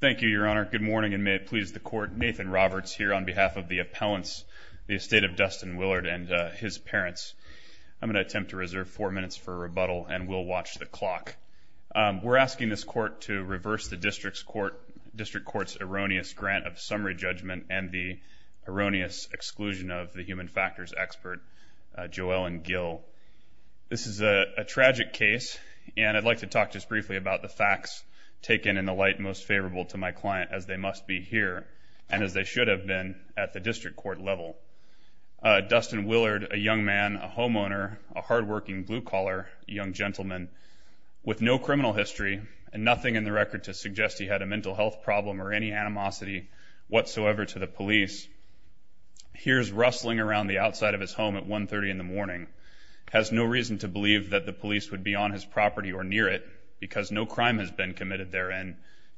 Thank you, Your Honor. Good morning, and may it please the court. Nathan Roberts here on behalf of the appellants, the estate of Dustin Willard and his parents. I'm going to attempt to reserve four minutes for rebuttal, and we'll watch the clock. We're asking this court to reverse the District Court's erroneous grant of summary judgment and the erroneous exclusion of the human factors expert, Joellen Gill. This is a tragic case, and I'd like to talk just briefly about the human factors expert, Joellen Gill. I'm going to try to be as polite and most favorable to my client as they must be here and as they should have been at the District Court level. Dustin Willard, a young man, a homeowner, a hardworking blue collar young gentleman with no criminal history and nothing in the record to suggest he had a mental health problem or any animosity whatsoever to the police, hears rustling around the outside of his home at 130 in the morning, has no reason to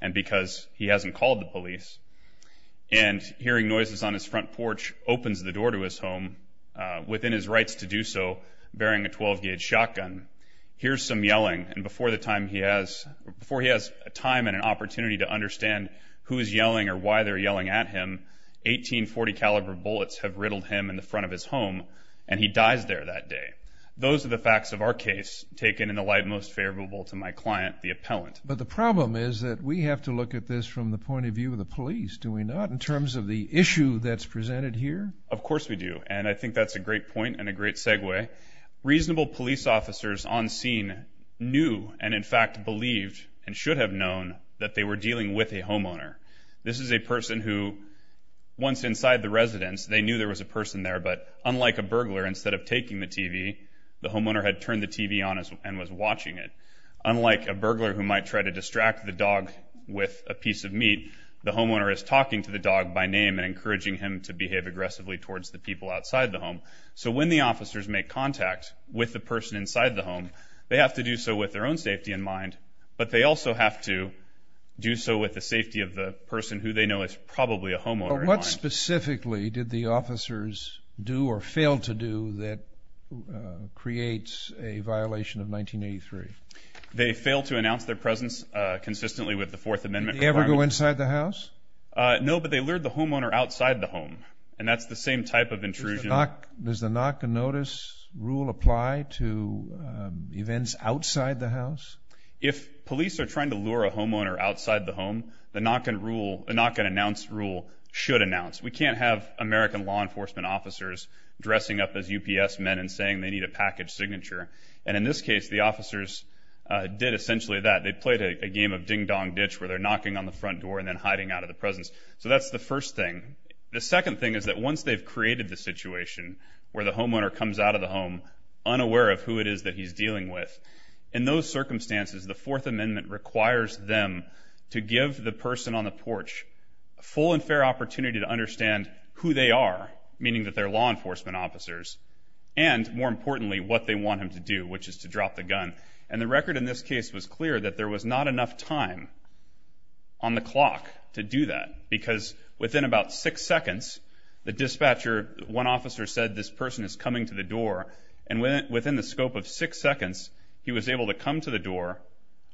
and because he hasn't called the police, and hearing noises on his front porch opens the door to his home within his rights to do so, bearing a 12-gauge shotgun, hears some yelling, and before he has time and an opportunity to understand who is yelling or why they're yelling at him, 18 .40 caliber bullets have riddled him in the front of his home, and he dies there that day. Those are the facts of our case taken in the light most favorable to my client, the appellant. But the problem is that we have to look at this from the point of view of the police, do we not, in terms of the issue that's presented here? Of course we do, and I think that's a great point and a great segue. Reasonable police officers on scene knew and in fact believed and should have known that they were dealing with a homeowner. This is a person who, once inside the residence, they knew there was a person there, but unlike a burglar, instead of taking the TV, the homeowner had turned the TV on and was watching it. Unlike a burglar who might try to distract the dog with a piece of meat, the homeowner is talking to the dog by name and encouraging him to behave aggressively towards the people outside the home. So when the officers make contact with the person inside the home, they have to do so with their own safety in mind, but they also have to do so with the safety of the person who they know is probably a homeowner in mind. What specifically did the officers do or fail to do that creates a violation of 1983? They failed to announce their presence consistently with the Fourth Amendment. Did they ever go inside the house? No, but they lured the homeowner outside the home, and that's the same type of intrusion. Does the knock and notice rule apply to events outside the house? If police are trying to lure a homeowner outside the home, the knock and announce rule should announce. We can't have American law enforcement officers dressing up as UPS men and saying they need a package signature. And in this case, the did essentially that. They played a game of ding dong ditch where they're knocking on the front door and then hiding out of the presence. So that's the first thing. The second thing is that once they've created the situation where the homeowner comes out of the home, unaware of who it is that he's dealing with, in those circumstances, the Fourth Amendment requires them to give the person on the porch a full and fair opportunity to understand who they are, meaning that they're law enforcement officers, and more importantly, what they want him to do, which is to drop the gun. And the record in this case was clear that there was not enough time on the clock to do that, because within about six seconds, the dispatcher, one officer said, this person is coming to the door. And within the scope of six seconds, he was able to come to the door,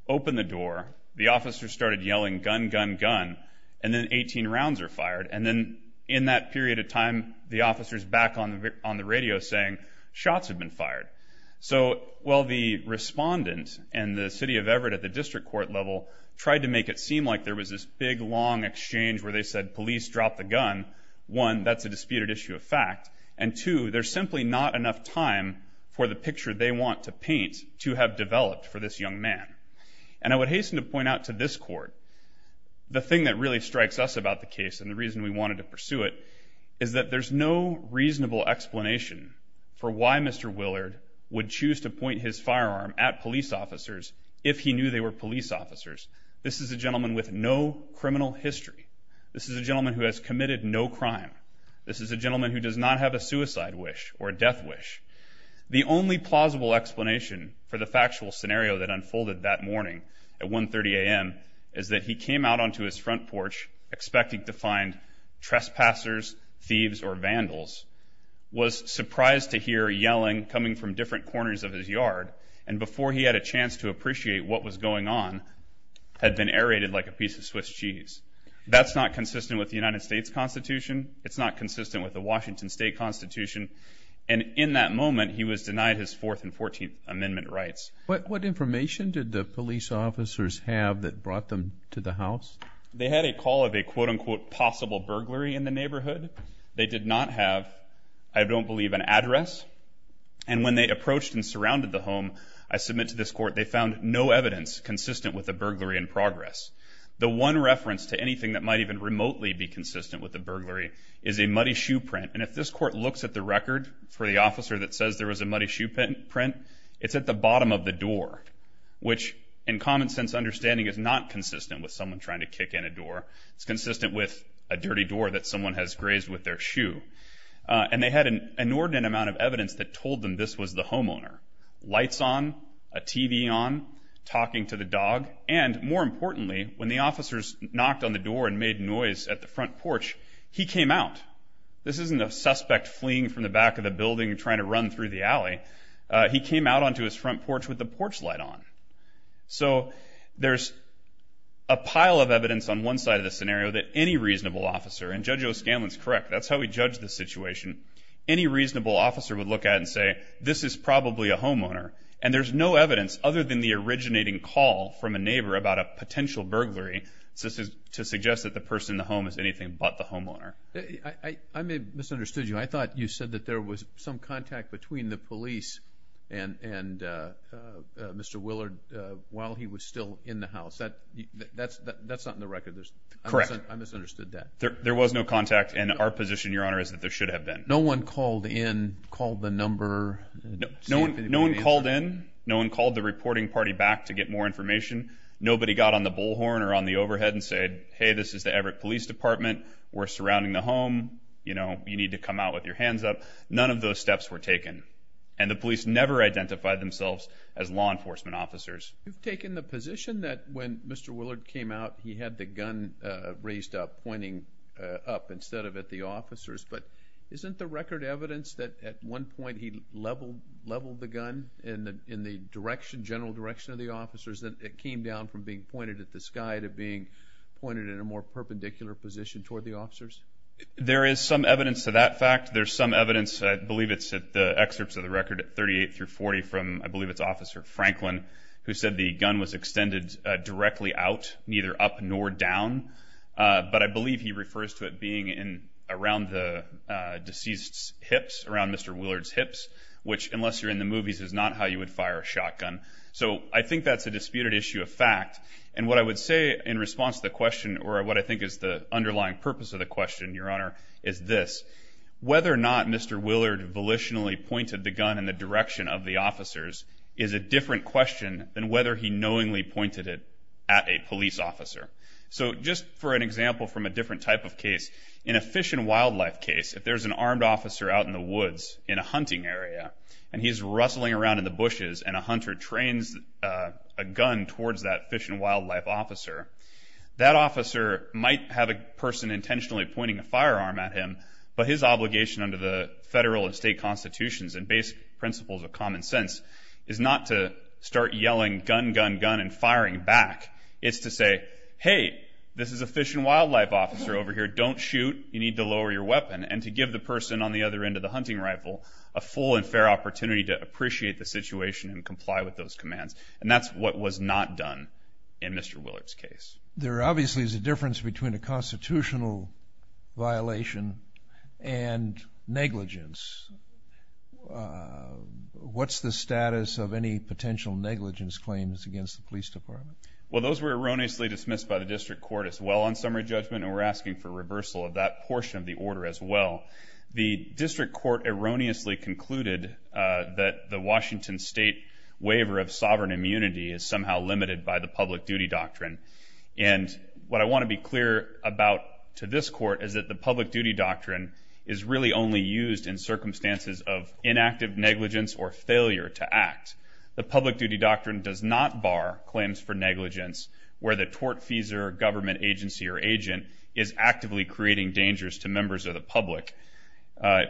open the door. The officer started yelling, gun, gun, gun. And then 18 rounds are fired. And then in that period of time, the officer's back on the radio saying shots have been fired. So while the respondent and the city of Everett at the district court level tried to make it seem like there was this big, long exchange where they said, police dropped the gun, one, that's a disputed issue of fact, and two, there's simply not enough time for the picture they want to paint to have developed for this young man. And I would hasten to point out to this court, the thing that really strikes us about the case and the reason we wanted to pursue it is that there's no reasonable explanation for why Mr. Willard would choose to point his firearm at police officers if he knew they were police officers. This is a gentleman with no criminal history. This is a gentleman who has committed no crime. This is a gentleman who does not have a suicide wish or a death wish. The only plausible explanation for the factual scenario that unfolded that morning at 1.30 a.m. is that he came out onto his front porch expecting to find trespassers, thieves, or vandals, was surprised to hear yelling coming from different corners of his yard, and before he had a chance to appreciate what was going on, had been aerated like a piece of Swiss cheese. That's not consistent with the United States Constitution. It's not consistent with the Washington state constitution. And in that moment, he was denied his fourth and 14th amendment rights. But what information did the police officers have that brought them to the house? They had a call of a, quote unquote, possible burglary in the neighborhood. They did not have, I don't believe, an address. And when they approached and surrounded the home, I submit to this court, they found no evidence consistent with the burglary in progress. The one reference to anything that might even remotely be consistent with the burglary is a muddy shoe print. And if this court looks at the record for the officer that says there was a muddy shoe print, it's at the bottom of the door, which in common sense understanding is not consistent with someone trying to kick in a door. It's consistent with a dirty door that someone has grazed with their shoe. And they had an inordinate amount of evidence that told them this was the homeowner. Lights on, a TV on, talking to the dog, and more importantly, when the officers knocked on the door and made noise at the front porch, he came out. This isn't a suspect fleeing from the back of the building and trying to run through the alley. He came out onto his front porch with the porch light on. So there's a pile of evidence on one side of the scenario that any reasonable officer, and Judge O'Scanlan's correct, that's how we judge the situation. Any reasonable officer would look at it and say, this is probably a homeowner. And there's no evidence other than the originating call from a neighbor about a potential burglary to suggest that the person in the home is anything but the homeowner. I may have misunderstood you. I thought you said that there was some contact between the while he was still in the house. That's not in the record. I misunderstood that. There was no contact. And our position, Your Honor, is that there should have been. No one called in, called the number? No one called in. No one called the reporting party back to get more information. Nobody got on the bullhorn or on the overhead and said, Hey, this is the Everett Police Department. We're surrounding the home. You know, you need to come out with your hands up. None of those steps were taken. And the police never identified themselves as law enforcement officers. You've taken the position that when Mr. Willard came out, he had the gun raised up, pointing up instead of at the officers. But isn't the record evidence that at one point he leveled leveled the gun in the in the direction, general direction of the officers, that it came down from being pointed at the sky to being pointed in a more perpendicular position toward the officers? There is some evidence to that fact. There's some evidence. I believe it's the excerpts of the record at 38 through 40 from I believe it's Officer Franklin. Who said the gun was extended directly out, neither up nor down. But I believe he refers to it being in around the deceased's hips around Mr. Willard's hips, which unless you're in the movies is not how you would fire a shotgun. So I think that's a disputed issue of fact. And what I would say in response to the question or what I think is the underlying purpose of the question, Your Honor, is this whether or not Mr. Willard volitionally pointed the gun in the direction of the question than whether he knowingly pointed it at a police officer. So just for an example from a different type of case, in a fish and wildlife case, if there's an armed officer out in the woods in a hunting area and he's rustling around in the bushes and a hunter trains a gun towards that fish and wildlife officer, that officer might have a person intentionally pointing a firearm at him. But his obligation under the federal and state constitutions and basic principles of common sense is not to start yelling gun, gun, gun and firing back. It's to say, hey, this is a fish and wildlife officer over here. Don't shoot. You need to lower your weapon. And to give the person on the other end of the hunting rifle a full and fair opportunity to appreciate the situation and comply with those commands. And that's what was not done in Mr. Willard's case. There obviously is a difference between a constitutional violation and negligence. What's the status of any potential negligence claims against the police department? Well, those were erroneously dismissed by the district court as well on summary judgment. And we're asking for reversal of that portion of the order as well. The district court erroneously concluded that the Washington state waiver of sovereign immunity is somehow limited by the public duty doctrine. And what I want to be clear about to this court is that the public duty doctrine is really only used in circumstances of inactive negligence or failure to act. The public duty doctrine does not bar claims for negligence where the tortfeasor, government agency or agent is actively creating dangers to members of the public.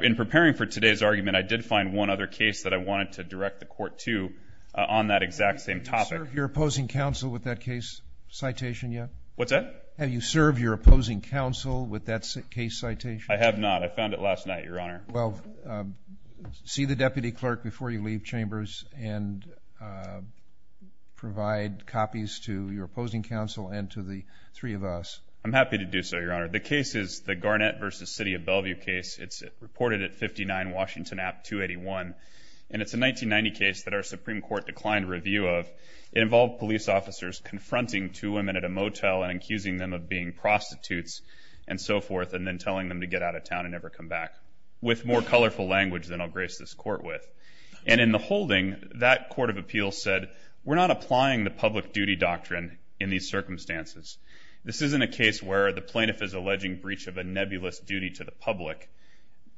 In preparing for today's argument, I did find one other case that I wanted to direct the court to on that exact same topic. Have you served your opposing counsel with that case citation yet? What's that? Have you served your opposing counsel with that case citation? I have not. I found it last night, Your Honor. Well, see the deputy clerk before you leave chambers and provide copies to your opposing counsel and to the three of us. I'm happy to do so, Your Honor. The case is the Garnett versus City of Bellevue case. It's reported at 59 Washington app 281. And it's a 1990 case that our Supreme Court declined review of. It involved police officers confronting two women at a motel and accusing them of being prostitutes and so forth and then telling them to get out of town and never come back. With more colorful language than I'll grace this court with. And in the holding, that court of appeals said, we're not applying the public duty doctrine in these circumstances. This isn't a case where the plaintiff is alleging breach of a nebulous duty to the public.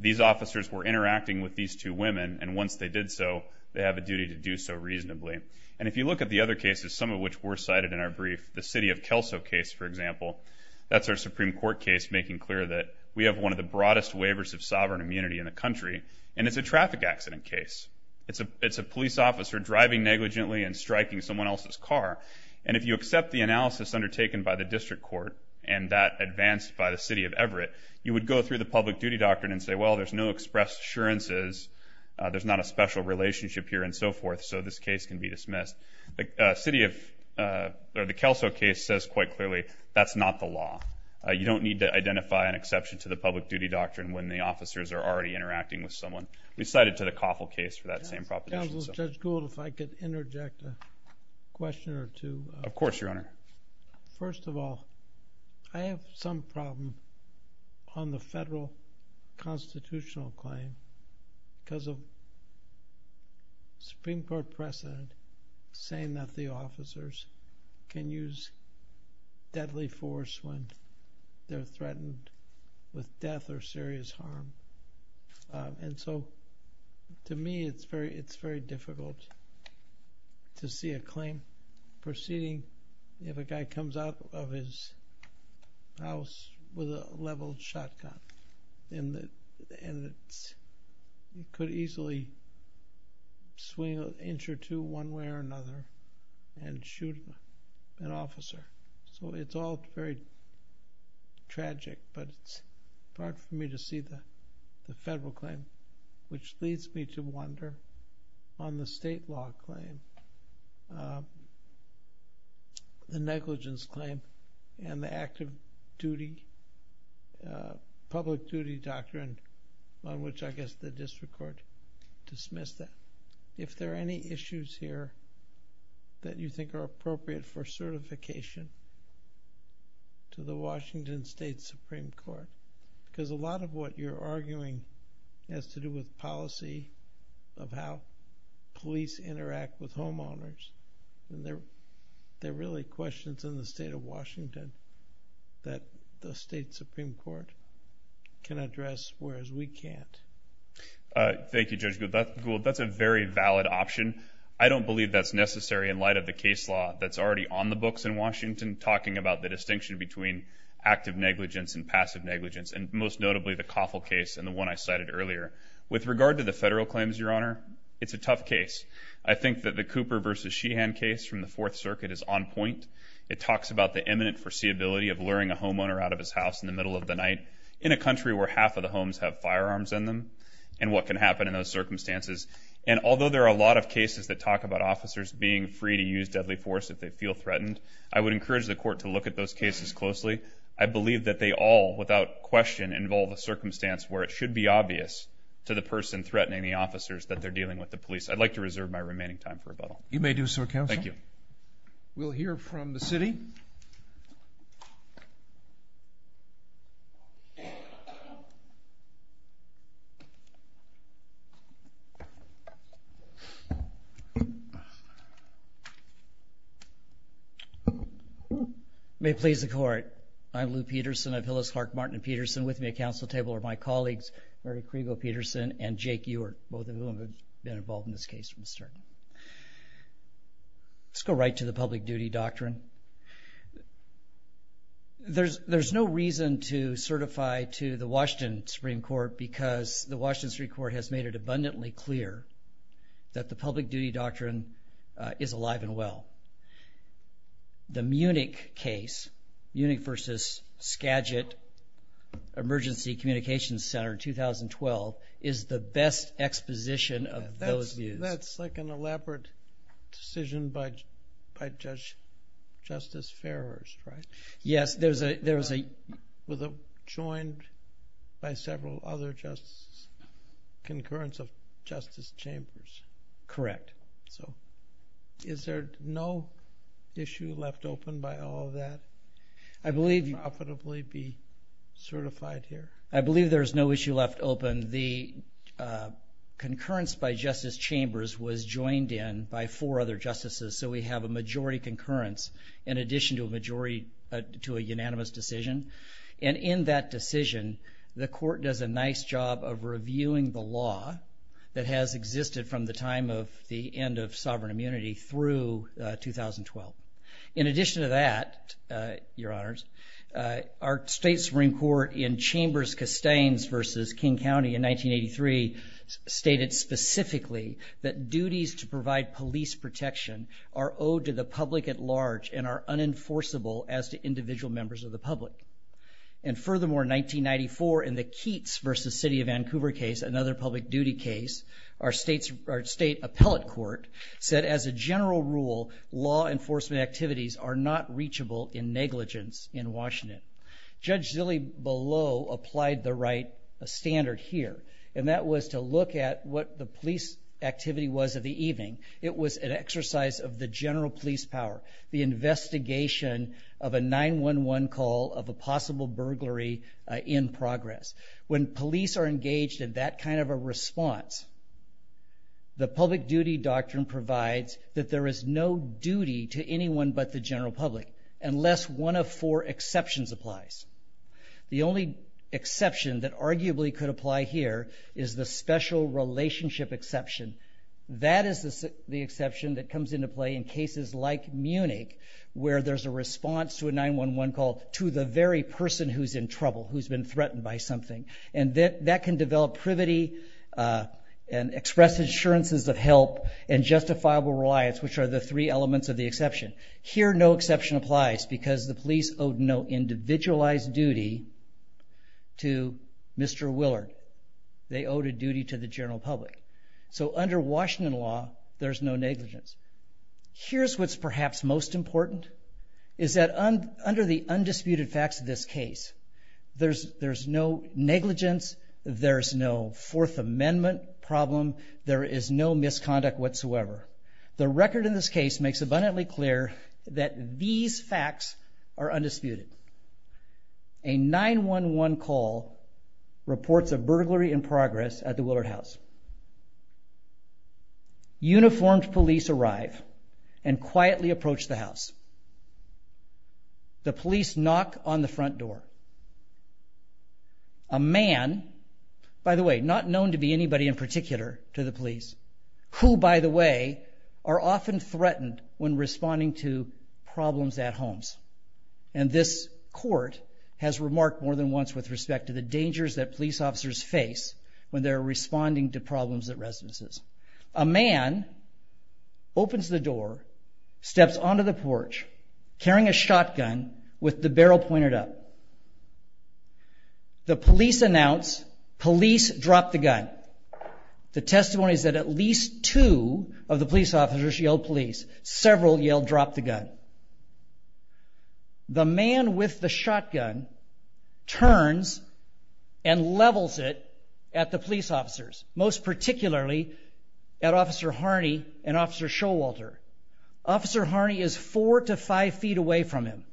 These officers were interacting with these two women. And once they did so, they have a duty to do so reasonably. And if you look at the other cases, some of which were cited in our brief, the City of Kelso case, for example, that's our Supreme Court case, making clear that we have one of the most sovereign immunity in the country. And it's a traffic accident case. It's a it's a police officer driving negligently and striking someone else's car. And if you accept the analysis undertaken by the district court and that advanced by the City of Everett, you would go through the public duty doctrine and say, well, there's no expressed assurances. There's not a special relationship here and so forth. So this case can be dismissed. The City of the Kelso case says quite clearly, that's not the law. You don't need to identify an exception to the public duty doctrine when the officers are already interacting with someone. We cited to the Coffell case for that same proposition. Counselor, Judge Gould, if I could interject a question or two. Of course, Your Honor. First of all, I have some problem on the federal constitutional claim because of Supreme Court precedent saying that the officers can use deadly force when they're threatened with death or serious harm. And so to me, it's very, it's very difficult to see a claim proceeding if a guy comes out of his house with a leveled shotgun in the end, it could easily swing an inch or two one way or another and shoot an officer. So it's all very tragic, but it's hard for me to see the federal claim, which leads me to wonder on the state law claim, the negligence claim and the active duty, public duty doctrine, on which I guess the district court dismissed that. If there are any issues here that you think are appropriate for certification to the Washington State Supreme Court, because a lot of what you're arguing has to do with policy of how police interact with homeowners. And they're really questions in the state of Washington that the state Supreme Court can address, whereas we can't. Thank you, Judge Gould. That's a very valid option. I don't believe that's necessary in light of the case law that's already on the books in Washington, talking about the distinction between active negligence and passive negligence, and most notably the Coffell case and the one I cited earlier. With regard to the federal claims, Your Honor, it's a tough case. I think that the Cooper versus Sheehan case from the Fourth Circuit is on point. It talks about the imminent foreseeability of luring a homeowner out of his house in the middle of the night in a country where half of the homes have firearms in them and what can happen in those circumstances. And although there are a lot of cases that talk about officers being free to use deadly force if they feel threatened, I would encourage the court to look at those cases closely. I believe that they all, without question, involve a circumstance where it should be obvious to the person threatening the officers that they're dealing with the police. I'd like to reserve my remaining time for rebuttal. You may do so, Counsel. Thank you. We'll hear from the city. May it please the court. I'm Lou Peterson. I'm Hillis Clark Martin and Peterson. With me at counsel table are my colleagues, Murray Crego Peterson and Jake Ewert, both of whom have been involved in this case from the start. Let's go right to the public duty doctrine. There's no reason to certify to the Washington Supreme Court because the Washington Supreme Court has made it abundantly clear that the public duty doctrine is alive and well. The Munich case, Munich versus Skagit Emergency Communications Center in 2012, is the best exposition of those views. That's like an elaborate decision by Justice Farrar's, right? Yes. There was a... Justice Chambers. Correct. Is there no issue left open by all of that? I believe... ...profitably be certified here? I believe there's no issue left open. The concurrence by Justice Chambers was joined in by four other justices. So we have a majority concurrence in addition to a unanimous decision. And in that decision, the court does a nice job of reviewing the case that has existed from the time of the end of sovereign immunity through 2012. In addition to that, Your Honors, our state Supreme Court in Chambers-Castains versus King County in 1983 stated specifically that duties to provide police protection are owed to the public at large and are unenforceable as to individual members of the public. And furthermore, 1994 in the Keats versus City of Vancouver case, another public duty case, our state appellate court said as a general rule, law enforcement activities are not reachable in negligence in Washington. Judge Zille below applied the right standard here, and that was to look at what the police activity was of the evening. It was an exercise of the general police power, the investigation of a 911 call of a possible burglary in progress. When police are engaged in that kind of a response, the public duty doctrine provides that there is no duty to anyone but the general public, unless one of four exceptions applies. The only exception that arguably could apply here is the special relationship exception, that is the exception that comes into play in cases like Munich, where there's a response to a 911 call to the very person who's in trouble, who's been threatened by something. And that can develop privity and express insurances of help and justifiable reliance, which are the three elements of the exception. Here, no exception applies because the police owed no individualized duty to Mr. Willard. They owed a duty to the general public. So under Washington law, there's no negligence. Here's what's perhaps most important, is that under the undisputed facts of this case, there's no negligence, there's no Fourth Amendment problem, there is no misconduct whatsoever. The record in this case makes abundantly clear that these facts are undisputed. A 911 call reports a burglary in progress at the Willard House. Uniformed police arrive and quietly approach the house. The police knock on the front door. A man, by the way, not known to be anybody in particular to the police, who, by the way, are often threatened when responding to problems at homes. And this court has remarked more than once with respect to the dangers that police officers face when they're responding to problems at residences. A man opens the door, steps onto the porch, carrying a shotgun with the barrel pointed up. The police announce, police drop the gun. The testimony is that at least two of the police officers yelled police, several yelled drop the gun. The man with the shotgun turns and levels it at the police officers, most particularly at Officer Harney and Officer Showalter. Officer Harney is four to five feet away from him.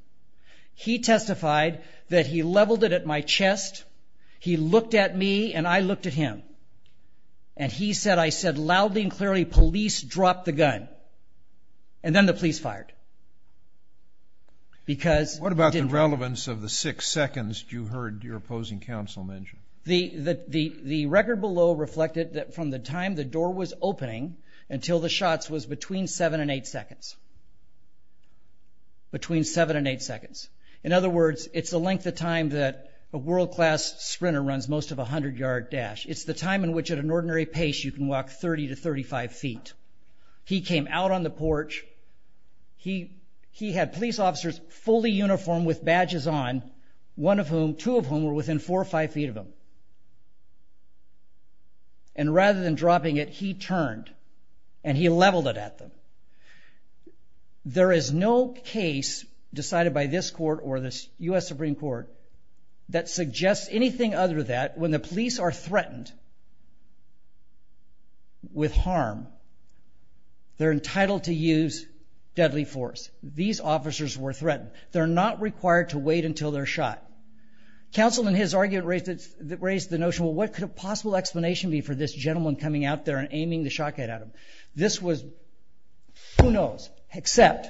He testified that he leveled it at my chest. He looked at me and I looked at him. And he said, I said loudly and clearly, police drop the gun. And then the police fired. Because- What about the relevance of the six seconds you heard your opposing counsel mention? The record below reflected that from the time the door was opening until the shots was between seven and eight seconds. Between seven and eight seconds. In other words, it's the length of time that a world class sprinter runs most of a hundred yard dash. It's the time in which at an ordinary pace you can walk 30 to 35 feet. He came out on the porch. He had police officers fully uniformed with badges on, one of whom, two of whom were within four or five feet of him. And rather than dropping it, he turned and he leveled it at them. There is no case decided by this court or this U.S. Supreme Court that suggests anything other that when the police are threatened with harm, they're entitled to use deadly force. These officers were threatened. They're not required to wait until they're shot. Counsel in his argument raised the notion, well, what could a possible explanation be for this gentleman coming out there and aiming the shotgun at him? This was, who knows, except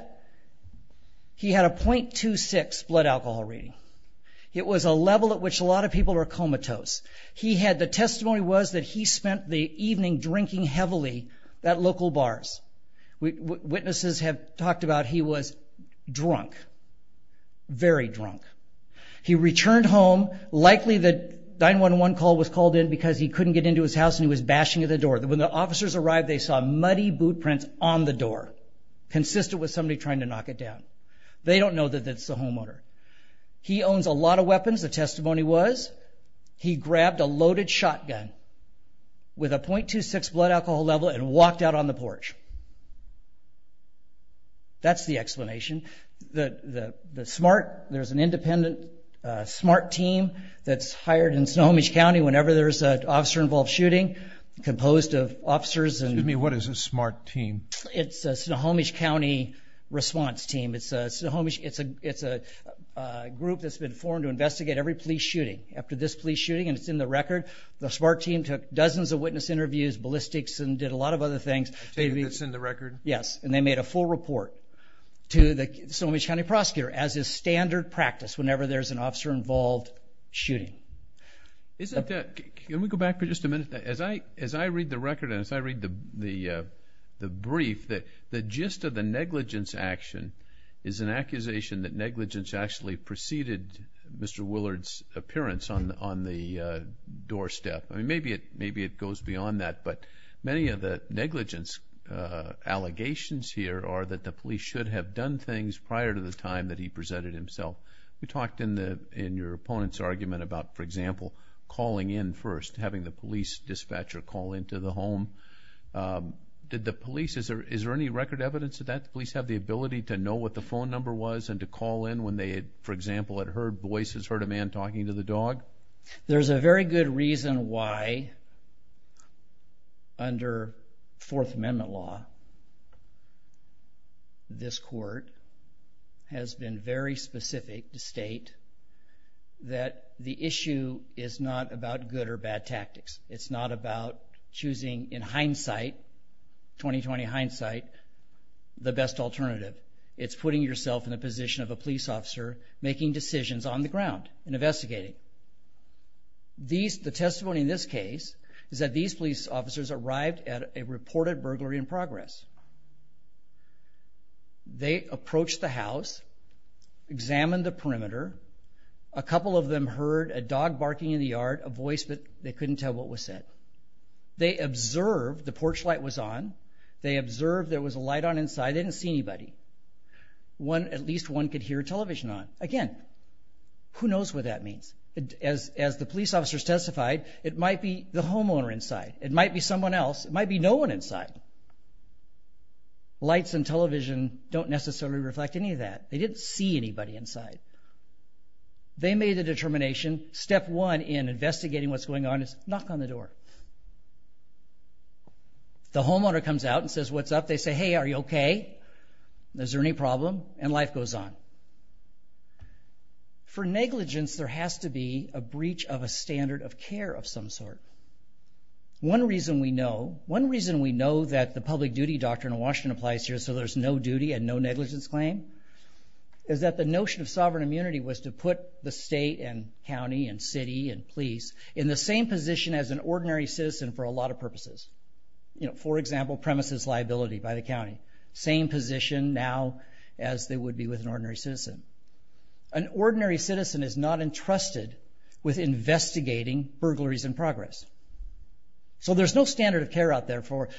he had a 0.26 blood alcohol rating. It was a level at which a lot of people are comatose. He had, the testimony was that he spent the evening drinking heavily at local bars. Witnesses have talked about he was drunk, very drunk. He returned home. Likely the 911 call was called in because he couldn't get into his house and he was bashing at the door. When the officers arrived, they saw muddy boot prints on the door, consistent with somebody trying to knock it down. They don't know that it's the homeowner. He owns a lot of weapons. The testimony was he grabbed a loaded shotgun with a 0.26 blood alcohol level and walked out on the porch. That's the explanation. The SMART, there's an independent SMART team that's hired in Snohomish County whenever there's an officer-involved shooting composed of officers. Excuse me, what is a SMART team? It's a Snohomish County response team. It's a group that's been formed to investigate every police shooting. After this police shooting, and it's in the record, the SMART team took dozens of witness interviews, ballistics, and did a lot of other things. A team that's in the record? Yes, and they made a full report to the Snohomish County prosecutor as a standard practice whenever there's an officer-involved shooting. Can we go back for just a minute? As I read the record and as I read the brief, the gist of the negligence action is an accusation that negligence actually preceded Mr. Willard's appearance on the doorstep. I mean, maybe it goes beyond that, but many of the negligence allegations here are that the police should have done things prior to the time that he presented himself. We talked in your opponent's argument about, for example, calling in first, having the police dispatcher call into the home. Did the police, is there any record evidence of that? Did the police have the ability to know what the phone number was and to call in when they, for example, had heard voices, heard a man talking to the dog? There's a very good reason why, under Fourth Amendment law, this court has been very specific to state that the issue is not about good or bad tactics. It's not about choosing, in hindsight, 2020 hindsight, the best alternative. It's putting yourself in the position of a police officer making decisions on the ground and investigating. The testimony in this case is that these police officers arrived at a reported burglary in progress. They approached the house, examined the perimeter. A couple of them heard a dog barking in the yard, a voice, but they couldn't tell what was said. They observed the porch light was on. They observed there was a light on inside. They didn't see anybody. At least one could hear television on. Again, who knows what that means? As the police officers testified, it might be the homeowner inside. It might be someone else. It might be no one inside. Lights and television don't necessarily reflect any of that. They didn't see anybody inside. They made a determination. Step one in investigating what's going on is knock on the door. The homeowner comes out and says, what's up? They say, hey, are you okay? Is there any problem? And life goes on. For negligence, there has to be a breach of a standard of care of some sort. One reason we know that the public duty doctrine in Washington applies here so there's no duty and no negligence claim is that the notion of sovereign immunity was to put the state and county and city and police in the same position as an ordinary citizen for a lot of purposes. For example, premises liability by the county. Same position now as they would be with an ordinary citizen. An ordinary citizen is not entrusted with investigating burglaries in progress. So there's no standard of care out there for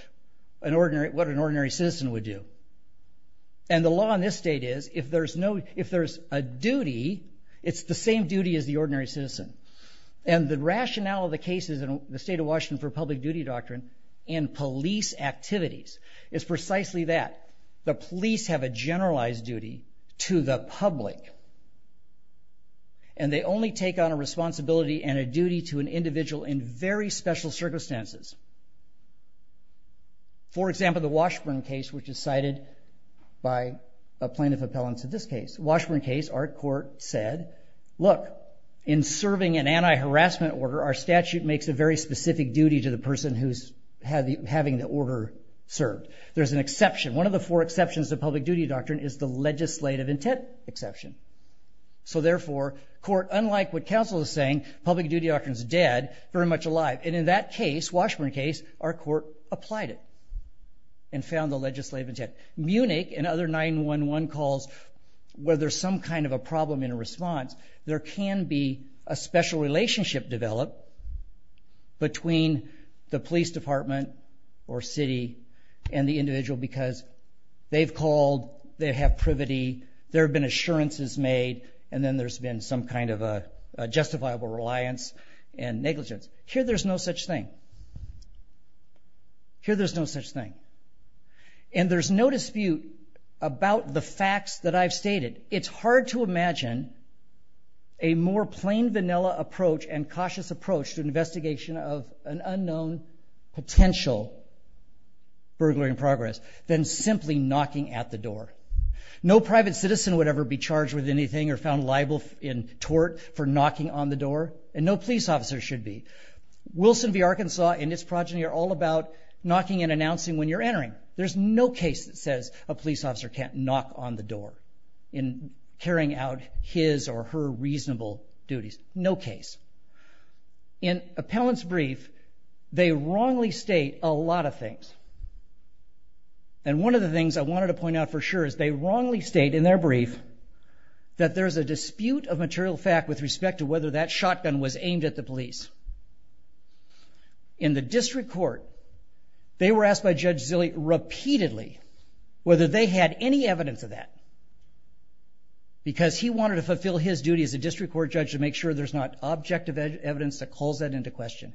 what an ordinary citizen would do. And the law in this state is if there's a duty, it's the same duty as the ordinary citizen. And the rationale of the cases in the state of Washington for public duty doctrine in police activities is precisely that. The police have a generalized duty to the public. And they only take on a responsibility and a duty to an individual in very special circumstances. For example, the Washburn case, which is cited by a plaintiff appellant to this case. Washburn case, our court said, look, in serving an anti-harassment order, our statute makes a very specific duty to the person who's having the order served. There's an exception. One of the four exceptions to public duty doctrine is the legislative intent exception. So therefore, court, unlike what counsel is saying, public duty doctrine is dead, very much alive. And in that case, Washburn case, our court applied it and found the legislative intent. Munich and other 911 calls where there's some kind of a problem in response, there can be a special relationship developed between the police department or city and the individual because they've called, they have privity, there have been assurances made, and then there's been some kind of a justifiable reliance and negligence. Here, there's no such thing. Here, there's no such thing. And there's no dispute about the facts that I've stated. It's hard to imagine a more plain vanilla approach and cautious approach to an investigation of an unknown potential burglary in progress than simply knocking at the door. No private citizen would ever be charged with anything or found liable in tort for knocking on the door, and no police officer should be. Wilson v. Arkansas and its progeny are all about knocking and announcing when you're entering. There's no case that says a police officer can't knock on the door in carrying out his or her reasonable duties. No case. In appellant's brief, they wrongly state a lot of things. And one of the things I wanted to point out for sure is they wrongly state in their brief that there's a dispute of material fact with respect to whether that shotgun was aimed at the police. In the district court, they were asked by Judge Zille repeatedly whether they had any evidence of that, because he wanted to fulfill his duty as a district court judge to make sure there's not objective evidence that calls that into question.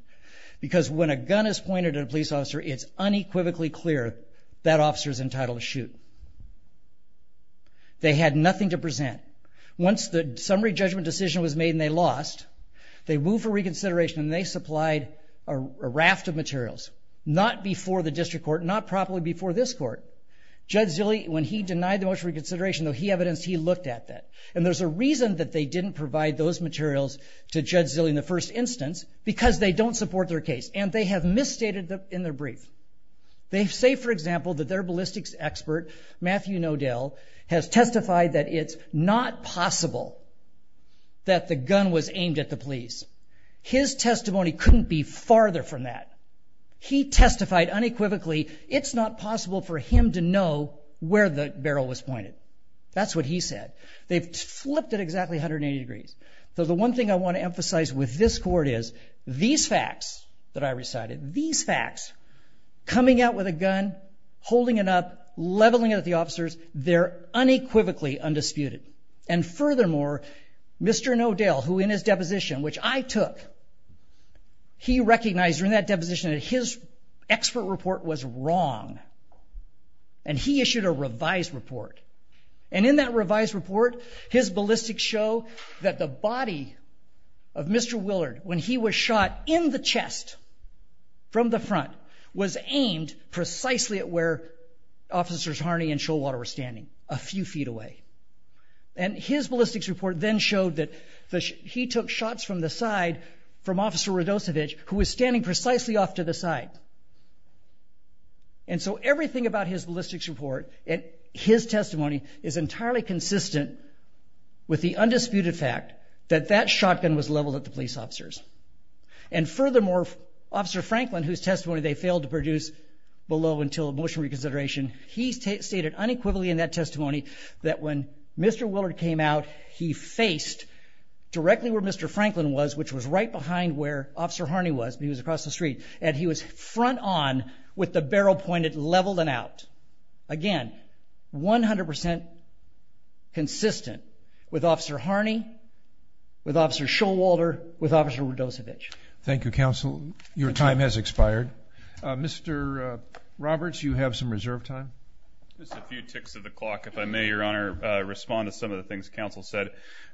Because when a gun is pointed at a police officer, it's unequivocally clear that officer's entitled to shoot. They had nothing to present. Once the summary judgment decision was made and they lost, they moved for reconsideration and they supplied a raft of materials. Not before the district court, not properly before this court. Judge Zille, when he denied the motion for reconsideration, though he evidenced he looked at that. And there's a reason that they didn't provide those materials to Judge Zille in the first instance, because they don't support their case. And they have misstated in their brief. They say, for example, that their ballistics expert, Matthew Nodell, has testified that it's not possible that the gun was aimed at the police. His testimony couldn't be farther from that. He testified unequivocally it's not possible for him to know where the barrel was pointed. That's what he said. They've flipped it exactly 180 degrees. So the one thing I want to emphasize with this court is these facts that I recited, these facts, coming out with a gun, holding it up, leveling it at the officers, they're unequivocally undisputed. And furthermore, Mr. Nodell, who in his deposition, which I took, he recognized during that deposition that his expert report was wrong. And he issued a revised report. And in that revised report, his ballistics show that the body of Mr. Willard, when he was shot in the chest from the front, was aimed precisely at where officers Harney and Showater were standing, a few feet away. And his ballistics report then showed that he took shots from the side from Officer Radosevich, who was standing precisely off to the side. And so everything about his ballistics report and his testimony is entirely consistent with the undisputed fact that that shotgun was leveled at the police officers. And furthermore, Officer Franklin, whose testimony they failed to produce below until motion reconsideration, he stated unequivocally in that testimony that when Mr. Willard came out, he faced directly where Mr. Franklin was, which was right behind where Officer Harney was, because he was across the street. And he was front on with the barrel pointed, leveled and out. Again, 100 percent consistent with Officer Harney, with Officer Showalter, with Officer Radosevich. Thank you, Counsel. Your time has expired. Mr. Roberts, you have some reserve time. Just a few ticks of the clock, if I may, Your Honor. Respond to some of the things Counsel said.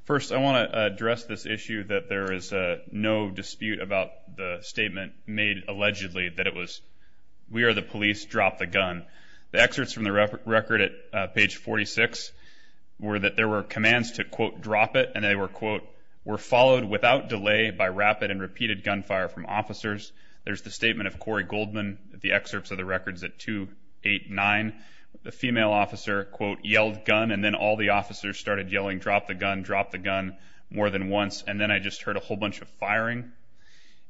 First, I want to address this issue that there is no dispute about the statement made allegedly that it was, we are the police, drop the gun. The excerpts from the record at page 46 were that there were commands to, quote, drop it. And they were, quote, were followed without delay by rapid and repeated gunfire from officers. There's the statement of Corey Goldman, the excerpts of the records at 2, 8, 9. The female officer, quote, yelled gun. And then all the officers started yelling, drop the gun, drop the gun, more than once. And then I just heard a whole bunch of firing.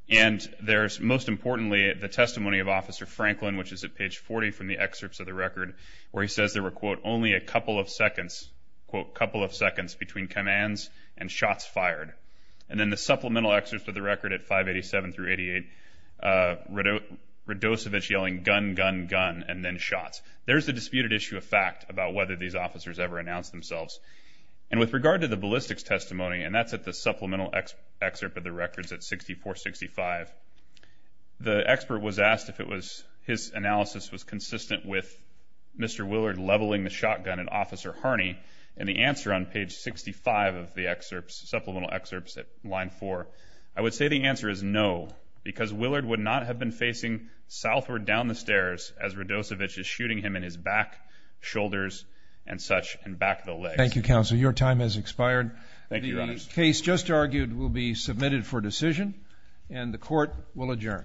And there's, most importantly, the testimony of Officer Franklin, which is at page 40 from the excerpts of the record, where he says there were, quote, only a couple of seconds, quote, couple of seconds between commands and shots fired. And then the supplemental excerpts of the record at 5, 87 through 88, Radosevich yelling gun, gun, gun, and then shots. There's the disputed issue of fact about whether these officers ever announced themselves. And with regard to the ballistics testimony, and that's at the supplemental excerpt of the records at 64, 65, the expert was asked if it was, his analysis was consistent with Mr. Willard leveling the shotgun at Officer Harney. And the answer on page 65 of the excerpts, supplemental excerpts at line 4, I would say the answer is no, because Willard would not have been facing southward down the stairs as Radosevich is shooting him in his back, shoulders, and such, and back of the legs. Thank you, Counsel. Your time has expired. Thank you, Your Honor. The case just argued will be submitted for decision, and the Court will adjourn.